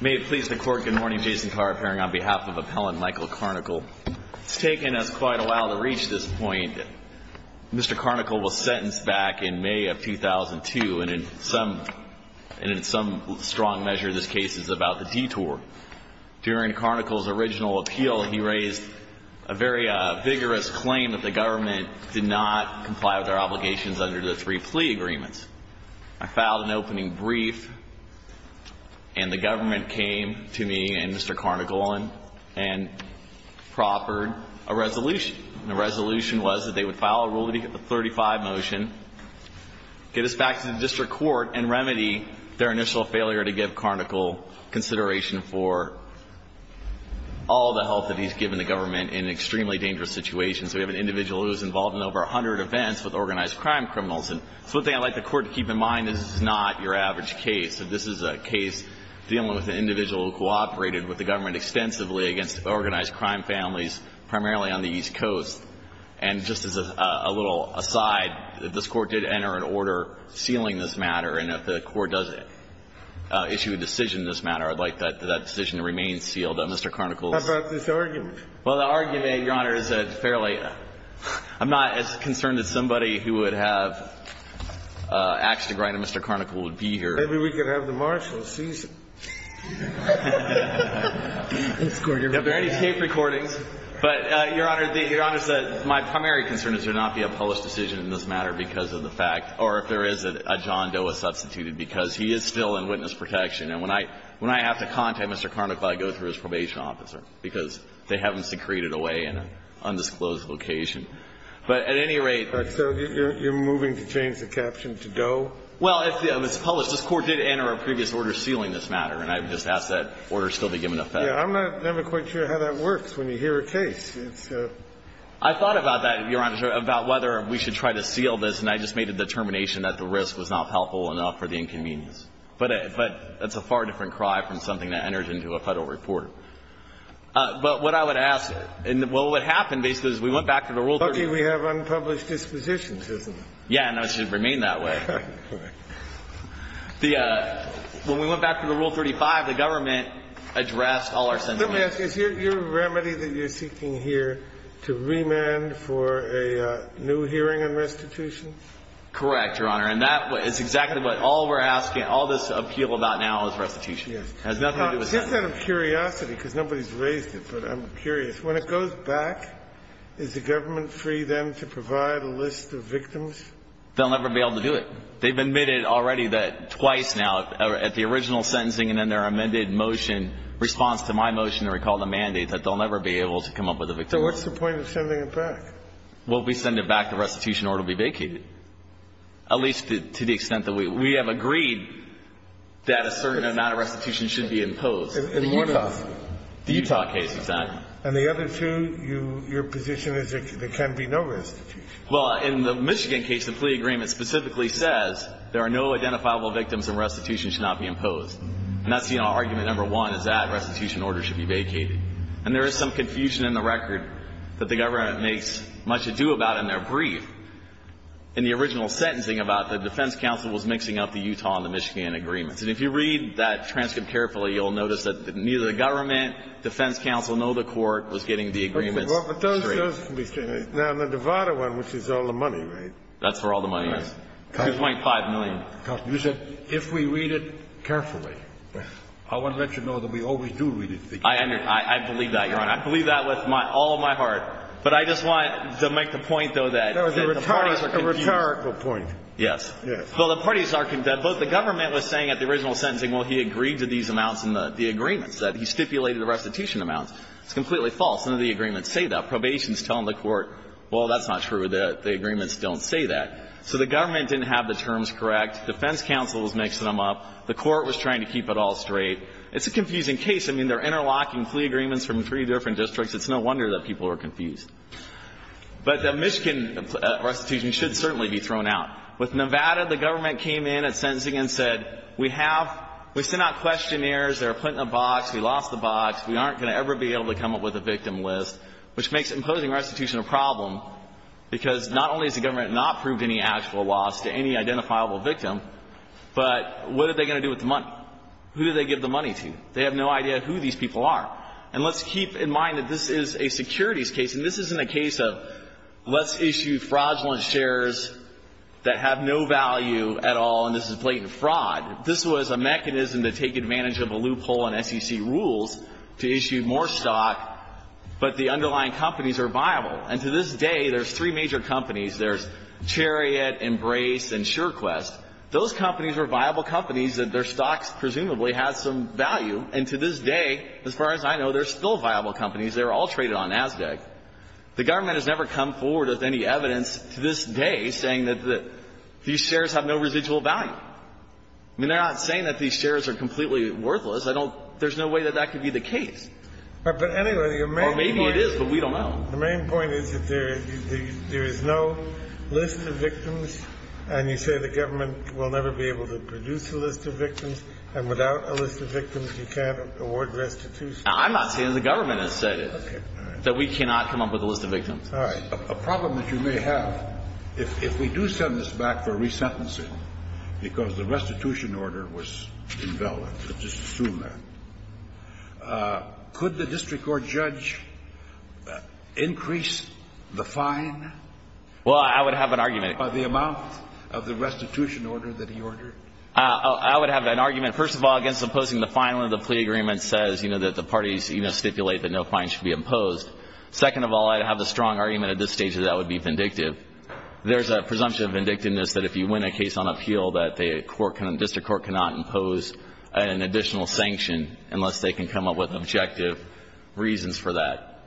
May it please the Court, good morning. Jason Carr, appearing on behalf of Appellant Michael Carnicle. It's taken us quite a while to reach this point. Mr. Carnicle was sentenced back in May of 2002, and in some strong measure this case is about the detour. During Carnicle's original appeal, he raised a very vigorous claim that the government did not comply with their obligations under the three plea agreements. I filed an opening brief, and the government came to me and Mr. Carnicle and proffered a resolution. The resolution was that they would file a Rule 35 motion, get us back to the district court, and remedy their initial failure to give Carnicle consideration for all the help that he's given the government in an extremely dangerous situation. So we have an individual who was involved in over 100 events with organized crime criminals. And so one thing I'd like the Court to keep in mind, this is not your average case. This is a case dealing with an individual who cooperated with the government extensively against organized crime families, primarily on the East Coast. And just as a little aside, this Court did enter an order sealing this matter, and if the Court does issue a decision in this matter, I'd like that decision to remain sealed. Mr. Carnicle's ---- How about this argument? Well, the argument, Your Honor, is fairly ---- I'm not as concerned as somebody who would have axed or grinded Mr. Carnicle would be here. Maybe we could have the marshals seize him. That's quite a reasonable argument. There have been many tape recordings. But, Your Honor, the ---- Your Honor, my primary concern is there not be a published decision in this matter because of the fact or if there is a John Doe is substituted, because he is still in witness protection. And when I ---- when I have to contact Mr. Carnicle, I go through his probation officer, because they have him secreted away in an undisclosed location. But at any rate ---- But so you're moving to change the caption to Doe? Well, if it's published, this Court did enter a previous order sealing this matter, and I would just ask that order still be given to Federal. I'm not ---- I'm not quite sure how that works when you hear a case. It's a ---- I thought about that, Your Honor, about whether we should try to seal this, and I just made a determination that the risk was not helpful enough for the inconvenience. But it's a far different cry from something that enters into a Federal report. But what I would ask, and what would happen basically is we went back to the Rule 35. Okay. We have unpublished dispositions, isn't it? Yeah. And that should remain that way. Correct. The ---- when we went back to the Rule 35, the government addressed all our sentiments. Let me ask. Is your remedy that you're seeking here to remand for a new hearing on restitution? Correct, Your Honor. And that is exactly what all we're asking, all this appeal about now is restitution. Yes. It has nothing to do with sentencing. I'm just out of curiosity, because nobody's raised it, but I'm curious. When it goes back, is the government free then to provide a list of victims? They'll never be able to do it. They've admitted already that twice now, at the original sentencing and then their amended motion, response to my motion to recall the mandate, that they'll never be able to come up with a victim list. So what's the point of sending it back? Well, we send it back to restitution or it will be vacated, at least to the extent that we have agreed that a certain amount of restitution should be imposed. The Utah case. The Utah case, exactly. And the other two, your position is that there can be no restitution. Well, in the Michigan case, the plea agreement specifically says there are no identifiable victims and restitution should not be imposed. And that's the argument number one, is that restitution order should be vacated. And there is some confusion in the record that the government makes much ado about in their brief in the original sentencing about the defense counsel was mixing up the Utah and the Michigan agreements. And if you read that transcript carefully, you'll notice that neither the government, defense counsel, nor the court was getting the agreements straight. But those can be straight. Now, the Devada one, which is all the money, right? That's where all the money is. $2.5 million. You said if we read it carefully. I want to let you know that we always do read it. I believe that, Your Honor. I believe that with all my heart. But I just want to make the point, though, that the parties are confused. A rhetorical point. Yes. Yes. Well, the parties are confused. Both the government was saying at the original sentencing, well, he agreed to these amounts in the agreements, that he stipulated the restitution amounts. It's completely false. None of the agreements say that. Probations tell the court, well, that's not true. The agreements don't say that. So the government didn't have the terms correct. Defense counsel was mixing them up. The court was trying to keep it all straight. It's a confusing case. I mean, they're interlocking plea agreements from three different districts. It's no wonder that people are confused. But the Michigan restitution should certainly be thrown out. With Nevada, the government came in at sentencing and said, we have we sent out questionnaires. They're put in a box. We lost the box. We aren't going to ever be able to come up with a victim list, which makes imposing restitution a problem, because not only has the government not proved any actual loss to any identifiable victim, but what are they going to do with the money? Who do they give the money to? They have no idea who these people are. And let's keep in mind that this is a securities case, and this isn't a case of let's issue fraudulent shares that have no value at all, and this is blatant fraud. This was a mechanism to take advantage of a loophole in SEC rules to issue more stock, but the underlying companies are viable. And to this day, there's three major companies. There's Chariot, Embrace, and SureQuest. Those companies are viable companies, and their stocks presumably have some value. And to this day, as far as I know, they're still viable companies. They're all traded on NASDAQ. The government has never come forward with any evidence to this day saying that these shares have no residual value. I mean, they're not saying that these shares are completely worthless. I don't – there's no way that that could be the case. But anyway, the main point is that there is no list of victims, and you say the government will never be able to produce a list of victims, and without a list of victims, you can't award restitution. I'm not saying the government has said it, that we cannot come up with a list of victims. All right. A problem that you may have, if we do send this back for resentencing, because the restitution order was invalid – let's just assume that – could the district court judge increase the fine? Well, I would have an argument. By the amount of the restitution order that he ordered? I would have an argument, first of all, against imposing the fine when the plea agreement says, you know, that the parties, you know, stipulate that no fine should be imposed. Second of all, I'd have the strong argument at this stage that that would be vindictive. There's a presumption of vindictiveness that if you win a case on appeal, that the court can – the district court cannot impose an additional sanction unless they can come up with objective reasons for that.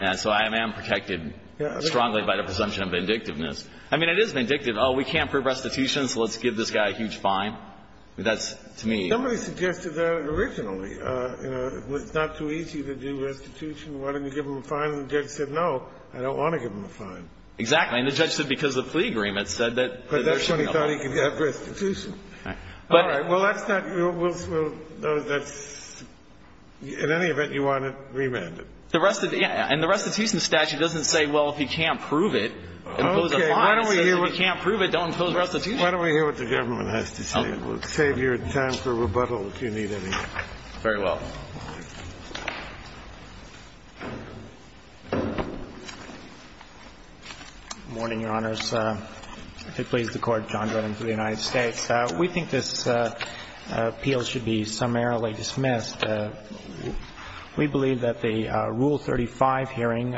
And so I am protected strongly by the presumption of vindictiveness. I mean, it is vindictive. Oh, we can't prove restitution, so let's give this guy a huge fine. That's, to me – Somebody suggested that originally, you know, it's not too easy to do restitution. Why don't you give him a fine? And the judge said, no, I don't want to give him a fine. Exactly. And the judge said because the plea agreement said that – But that's when he thought he could have restitution. All right. Well, that's not – that's – in any event, you want to remand him. The rest – and the restitution statute doesn't say, well, if he can't prove it, impose a fine. It says if he can't prove it, don't impose restitution. Why don't we hear what the government has to say? And we'll save your time for rebuttal, if you need any. Very well. Good morning, Your Honors. It pleads the Court, John Drennan for the United States. We think this appeal should be summarily dismissed. We believe that the Rule 35 hearing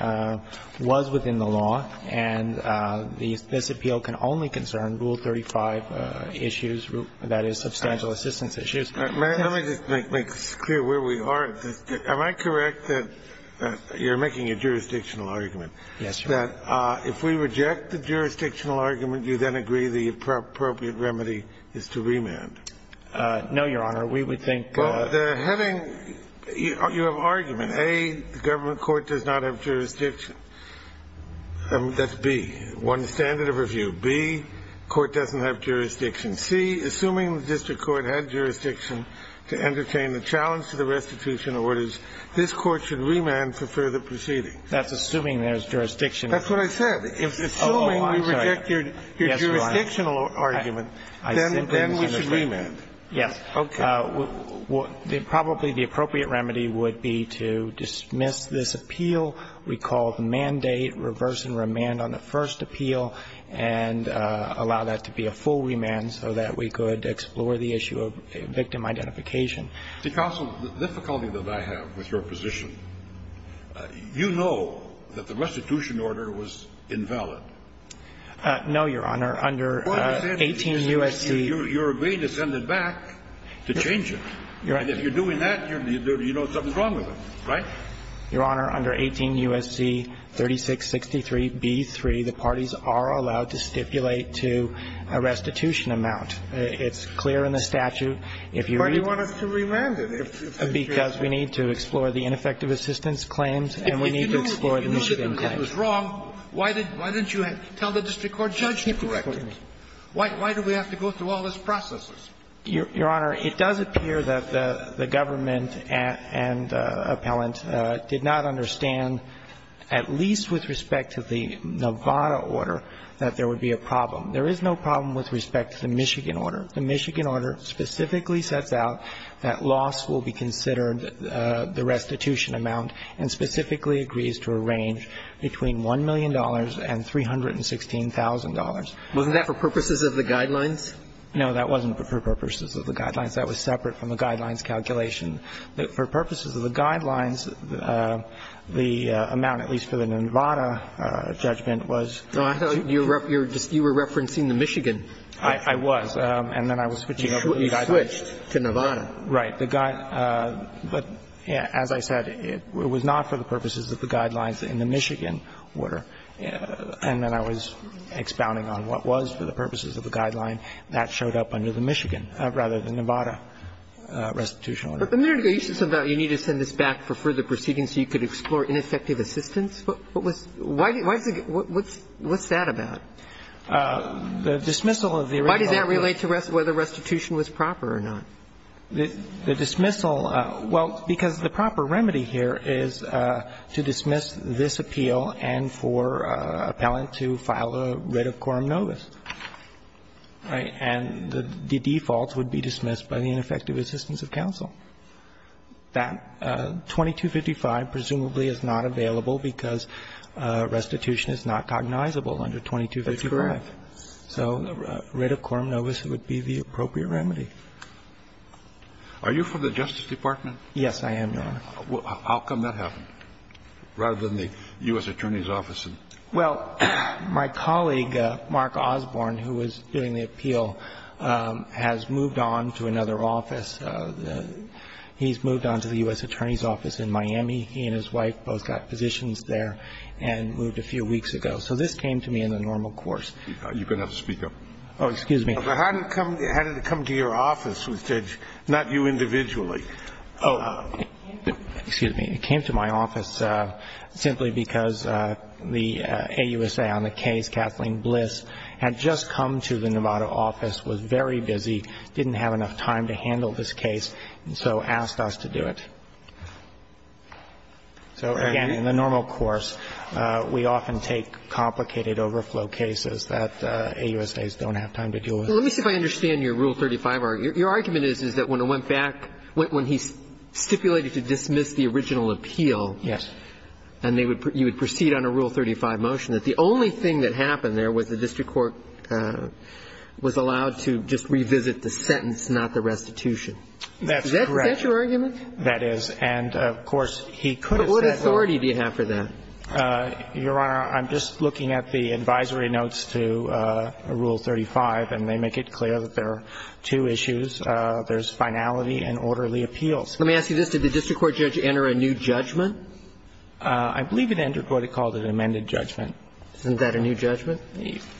was within the law, and this appeal can only be dismissed. As far as I'm concerned, Rule 35 issues – that is, substantial assistance issues – Let me just make clear where we are. Am I correct that you're making a jurisdictional argument? Yes, Your Honor. That if we reject the jurisdictional argument, you then agree the appropriate remedy is to remand? No, Your Honor. We would think – Well, the heading – you have an argument, A, the government court does not have jurisdiction, B, the court doesn't have jurisdiction, C, assuming the district court had jurisdiction to entertain the challenge to the restitution orders, this court should remand for further proceedings? That's assuming there's jurisdiction. That's what I said. Oh, I'm sorry. Assuming we reject your jurisdictional argument, then we should remand. Yes. Okay. Probably the appropriate remedy would be to dismiss this appeal, recall the case, allow that to be a full remand so that we could explore the issue of victim identification. Counsel, the difficulty that I have with your position, you know that the restitution order was invalid. No, Your Honor. Under 18 U.S.C. You're agreeing to send it back to change it. And if you're doing that, you know something's wrong with it. Right? Your Honor, under 18 U.S.C. 3663b3, the parties are allowed to stipulate to the restitution amount. It's clear in the statute. But you want us to remand it. Because we need to explore the ineffective assistance claims and we need to explore the Michigan claims. If you knew that it was wrong, why didn't you tell the district court judge to correct it? Why do we have to go through all these processes? Your Honor, it does appear that the government and appellant did not understand, at least with respect to the Nevada order, that there would be a problem. There is no problem with respect to the Michigan order. The Michigan order specifically sets out that loss will be considered the restitution amount and specifically agrees to a range between $1 million and $316,000. Wasn't that for purposes of the Guidelines? No, that wasn't for purposes of the Guidelines. That was separate from the Guidelines calculation. For purposes of the Guidelines, the amount, at least for the Nevada judgment, was $316,000. I thought you were referencing the Michigan judgment. I was. And then I was switching over to the Guidelines. You switched to Nevada. Right. The Guidelines. But as I said, it was not for the purposes of the Guidelines in the Michigan order. And then I was expounding on what was for the purposes of the Guidelines. That showed up under the Michigan, rather than Nevada, restitution order. But a minute ago you said something about you need to send this back for further proceeding so you could explore ineffective assistance. What's that about? The dismissal of the original. Why does that relate to whether restitution was proper or not? The dismissal. Well, because the proper remedy here is to dismiss this appeal and for an appellant to file a writ of quorum novis. Right. And the defaults would be dismissed by the ineffective assistance of counsel. That 2255 presumably is not available because restitution is not cognizable That's correct. So a writ of quorum novis would be the appropriate remedy. Are you from the Justice Department? Yes, I am, Your Honor. Well, how come that happened, rather than the U.S. Attorney's Office? Well, my colleague, Mark Osborne, who was doing the appeal, has moved on to another office. He's moved on to the U.S. Attorney's Office in Miami. He and his wife both got positions there and moved a few weeks ago. So this came to me in the normal course. You can have the speaker. Oh, excuse me. How did it come to your office? Not you individually. Oh, excuse me. It came to my office simply because the AUSA on the case, Kathleen Bliss, had just come to the Nevada office, was very busy, didn't have enough time to handle this case, and so asked us to do it. So, again, in the normal course, we often take complicated overflow cases that AUSAs don't have time to deal with. Let me see if I understand your Rule 35 argument. Your argument is that when it went back, when he stipulated to dismiss the original appeal, and you would proceed on a Rule 35 motion, that the only thing that happened there was the district court was allowed to just revisit the sentence, not the restitution. That's correct. Is that your argument? That is. And, of course, he could have said, well But what authority do you have for that? Your Honor, I'm just looking at the advisory notes to Rule 35, and they make it clear that there are two issues. There's finality and orderly appeals. Let me ask you this. Did the district court judge enter a new judgment? I believe it entered what it called an amended judgment. Isn't that a new judgment?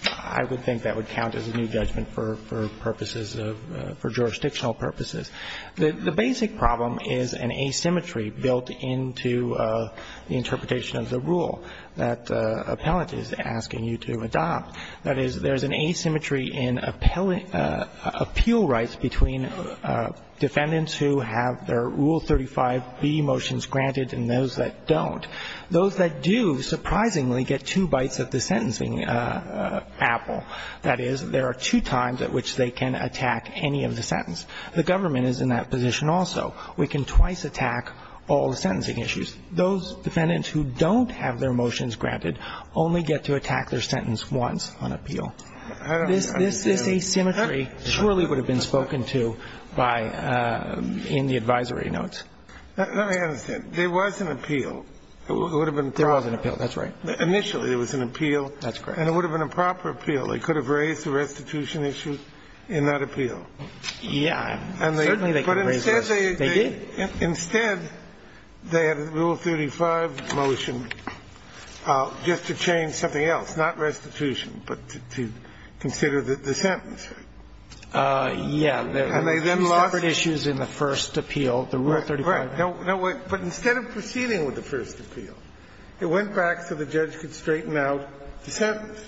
I would think that would count as a new judgment for purposes of, for jurisdictional purposes. The basic problem is an asymmetry built into the interpretation of the rule that the appellant is asking you to adopt. That is, there's an asymmetry in appeal rights between defendants who have their Rule 35b motions granted and those that don't. Those that do, surprisingly, get two bites of the sentencing apple. That is, there are two times at which they can attack any of the sentence. The government is in that position also. We can twice attack all the sentencing issues. Those defendants who don't have their motions granted only get to attack their sentence once on appeal. This asymmetry surely would have been spoken to by, in the advisory notes. Let me understand. There was an appeal. There was an appeal. That's right. Initially, there was an appeal. That's correct. And it would have been a proper appeal. They could have raised the restitution issue in that appeal. Yeah. Certainly they could have raised that. They did. Instead, they had a Rule 35 motion just to change something else, not restitution, but to consider the sentence. Yeah. And they then lost it. There were two separate issues in the first appeal, the Rule 35. Right. But instead of proceeding with the first appeal, it went back so the judge could straighten out the sentence.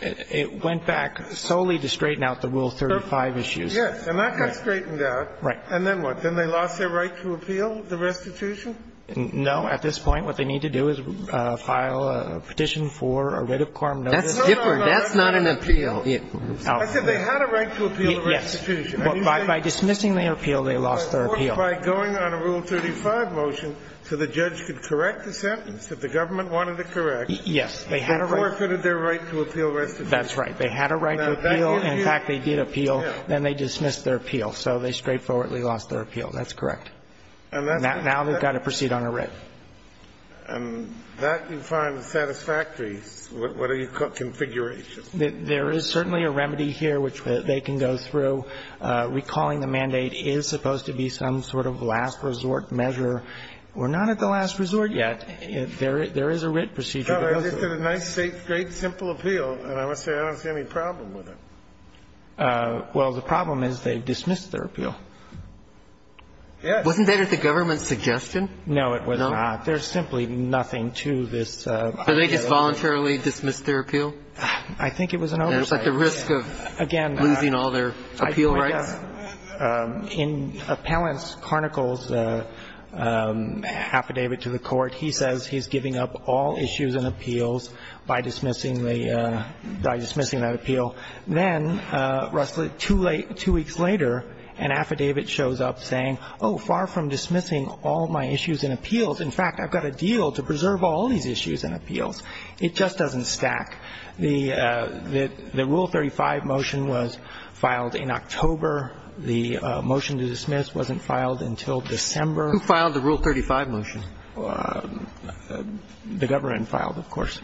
It went back solely to straighten out the Rule 35 issues. Yes. And that got straightened out. Right. And then what? Then they lost their right to appeal the restitution? No. At this point, what they need to do is file a petition for a writ of quorum notice. That's different. That's not an appeal. I said they had a right to appeal the restitution. Yes. By dismissing the appeal, they lost their appeal. By going on a Rule 35 motion so the judge could correct the sentence if the government wanted to correct. Yes. They had a right. They forfeited their right to appeal restitution. That's right. They had a right to appeal. In fact, they did appeal. Then they dismissed their appeal. So they straightforwardly lost their appeal. That's correct. Now they've got to proceed on a writ. And that you find satisfactory. What are your configurations? There is certainly a remedy here which they can go through. Recalling the mandate is supposed to be some sort of last resort measure. We're not at the last resort yet. There is a writ procedure that goes through it. It's a nice, great, simple appeal. And I must say, I don't see any problem with it. Well, the problem is they dismissed their appeal. Yes. Wasn't that at the government's suggestion? No, it was not. There's simply nothing to this. Did they just voluntarily dismiss their appeal? I think it was an oversight. It's like the risk of losing all their appeal rights. In Appellant's Carnicle's affidavit to the court, he says he's giving up all issues and appeals by dismissing that appeal. Then, two weeks later, an affidavit shows up saying, oh, far from dismissing all my issues and appeals. In fact, I've got a deal to preserve all these issues and appeals. It just doesn't stack. The Rule 35 motion was filed in October. The motion to dismiss wasn't filed until December. Who filed the Rule 35 motion? The government filed, of course.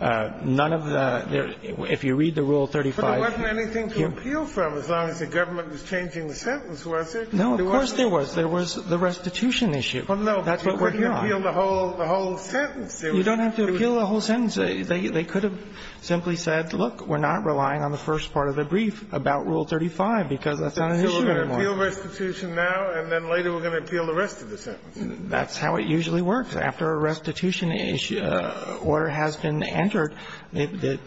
None of the ‑‑ if you read the Rule 35 ‑‑ But there wasn't anything to appeal from, as long as the government was changing the sentence, was there? No, of course there was. There was the restitution issue. Well, no, but you couldn't appeal the whole sentence. You don't have to appeal the whole sentence. They could have simply said, look, we're not relying on the first part of the brief about Rule 35 because that's not an issue anymore. So we're going to appeal restitution now, and then later we're going to appeal the rest of the sentence. That's how it usually works. After a restitution order has been entered, the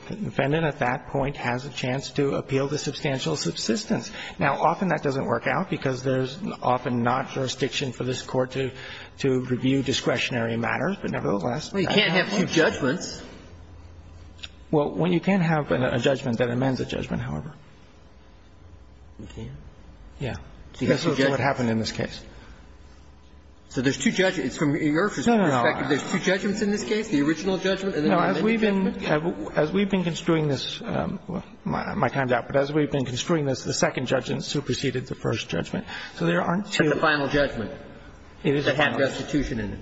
defendant at that point has a chance to appeal the substantial subsistence. Now, often that doesn't work out because there's often not jurisdiction for this court to review discretionary matters, but nevertheless ‑‑ Well, you can't have two judgments. Well, you can have a judgment that amends a judgment, however. You can? Yeah. That's what happened in this case. So there's two judgments. It's from your perspective. No, no, no. There's two judgments in this case? The original judgment and then the amended judgment? No, as we've been construing this, my time's up, but as we've been construing this, the second judgment superseded the first judgment. So there aren't two. But the final judgment. It is the final. That had restitution in it.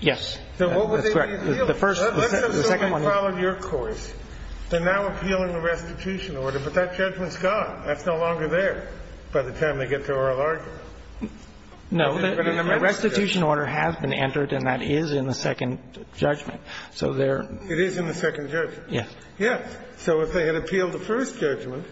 Yes. So what would they be appealing? The first ‑‑ the second one. Let us say we followed your course. They're now appealing the restitution order, but that judgment's gone. That's no longer there by the time they get to oral argument. No. The restitution order has been entered, and that is in the second judgment. So they're ‑‑ It is in the second judgment. Yes. Yes. So if they had appealed the first judgment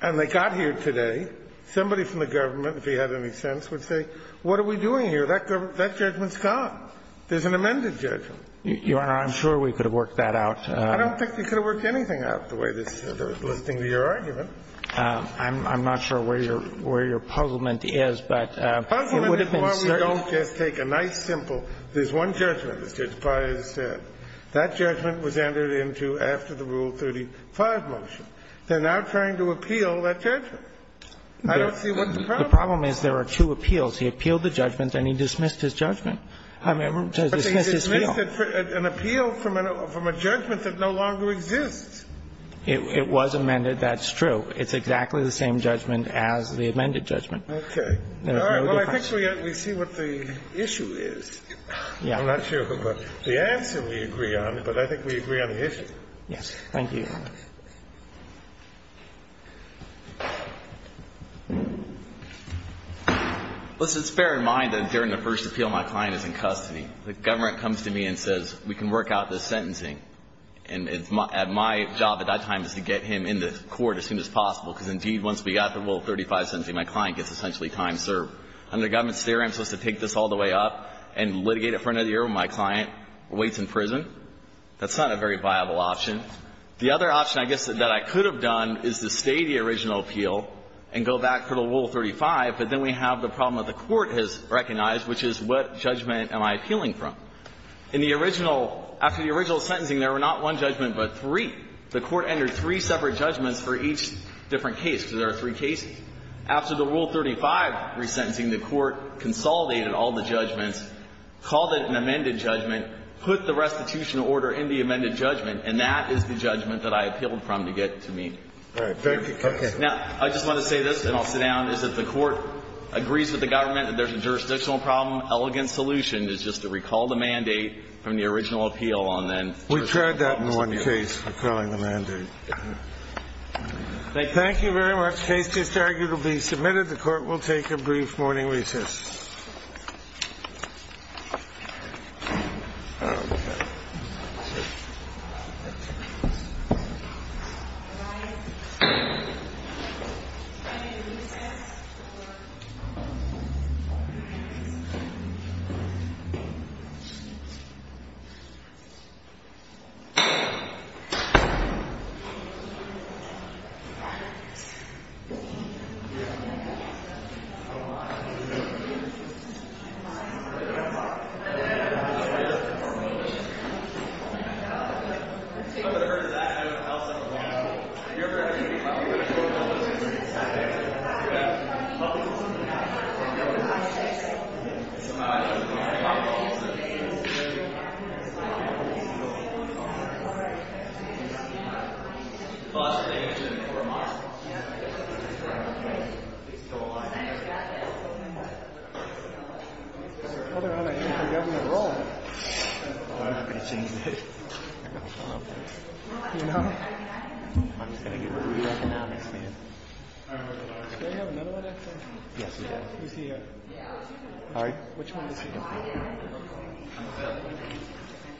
and they got here today, somebody from the government, if he had any sense, would say, what are we doing here? That judgment's gone. There's an amended judgment. Your Honor, I'm sure we could have worked that out. I don't think we could have worked anything out the way they're listening to your argument. I'm not sure where your ‑‑ where your puzzlement is, but it would have been certain. Puzzlement is why we don't just take a nice, simple, there's one judgment, as Judge Breyer said. That judgment was entered into after the Rule 35 motion. They're now trying to appeal that judgment. I don't see what the problem is. The problem is there are two appeals. He appealed the judgment and he dismissed his judgment. I mean, to dismiss his appeal. But he dismissed an appeal from a judgment that no longer exists. It was amended. That's true. It's exactly the same judgment as the amended judgment. Okay. All right. Well, I think we see what the issue is. Yeah. I'm not sure of the answer we agree on, but I think we agree on the issue. Yes. Thank you, Your Honor. Listen, it's fair in mind that during the first appeal, my client is in custody. The government comes to me and says, we can work out this sentencing. And my job at that time is to get him in the court as soon as possible. Because, indeed, once we got the Rule 35 sentencing, my client gets essentially time served. Under government's theory, I'm supposed to take this all the way up and litigate it for another year while my client waits in prison? The other option I can think of is to take the case to the Supreme Court. And I guess that I could have done is to stay the original appeal and go back for the Rule 35. But then we have the problem that the Court has recognized, which is what judgment am I appealing from? In the original – after the original sentencing, there were not one judgment but three. The Court entered three separate judgments for each different case, because there are three cases. After the Rule 35 resentencing, the Court consolidated all the judgments, called it an amended judgment, put the restitution order in the amended judgment. And that is the judgment that I appealed from to get to me. All right. Thank you, counsel. Now, I just want to say this, and I'll sit down, is that the Court agrees with the government that there's a jurisdictional problem. Elegant solution is just to recall the mandate from the original appeal on then jurisdictional problems. We've tried that in one case, recalling the mandate. Thank you. Thank you very much. Case just arguably submitted. The Court will take a brief morning recess. All rise. We'll begin the recess. I'm just going to get rid of economics, man. Do I have another one, actually? Yes, you do. Who's he at? All right. Which one is he going to be?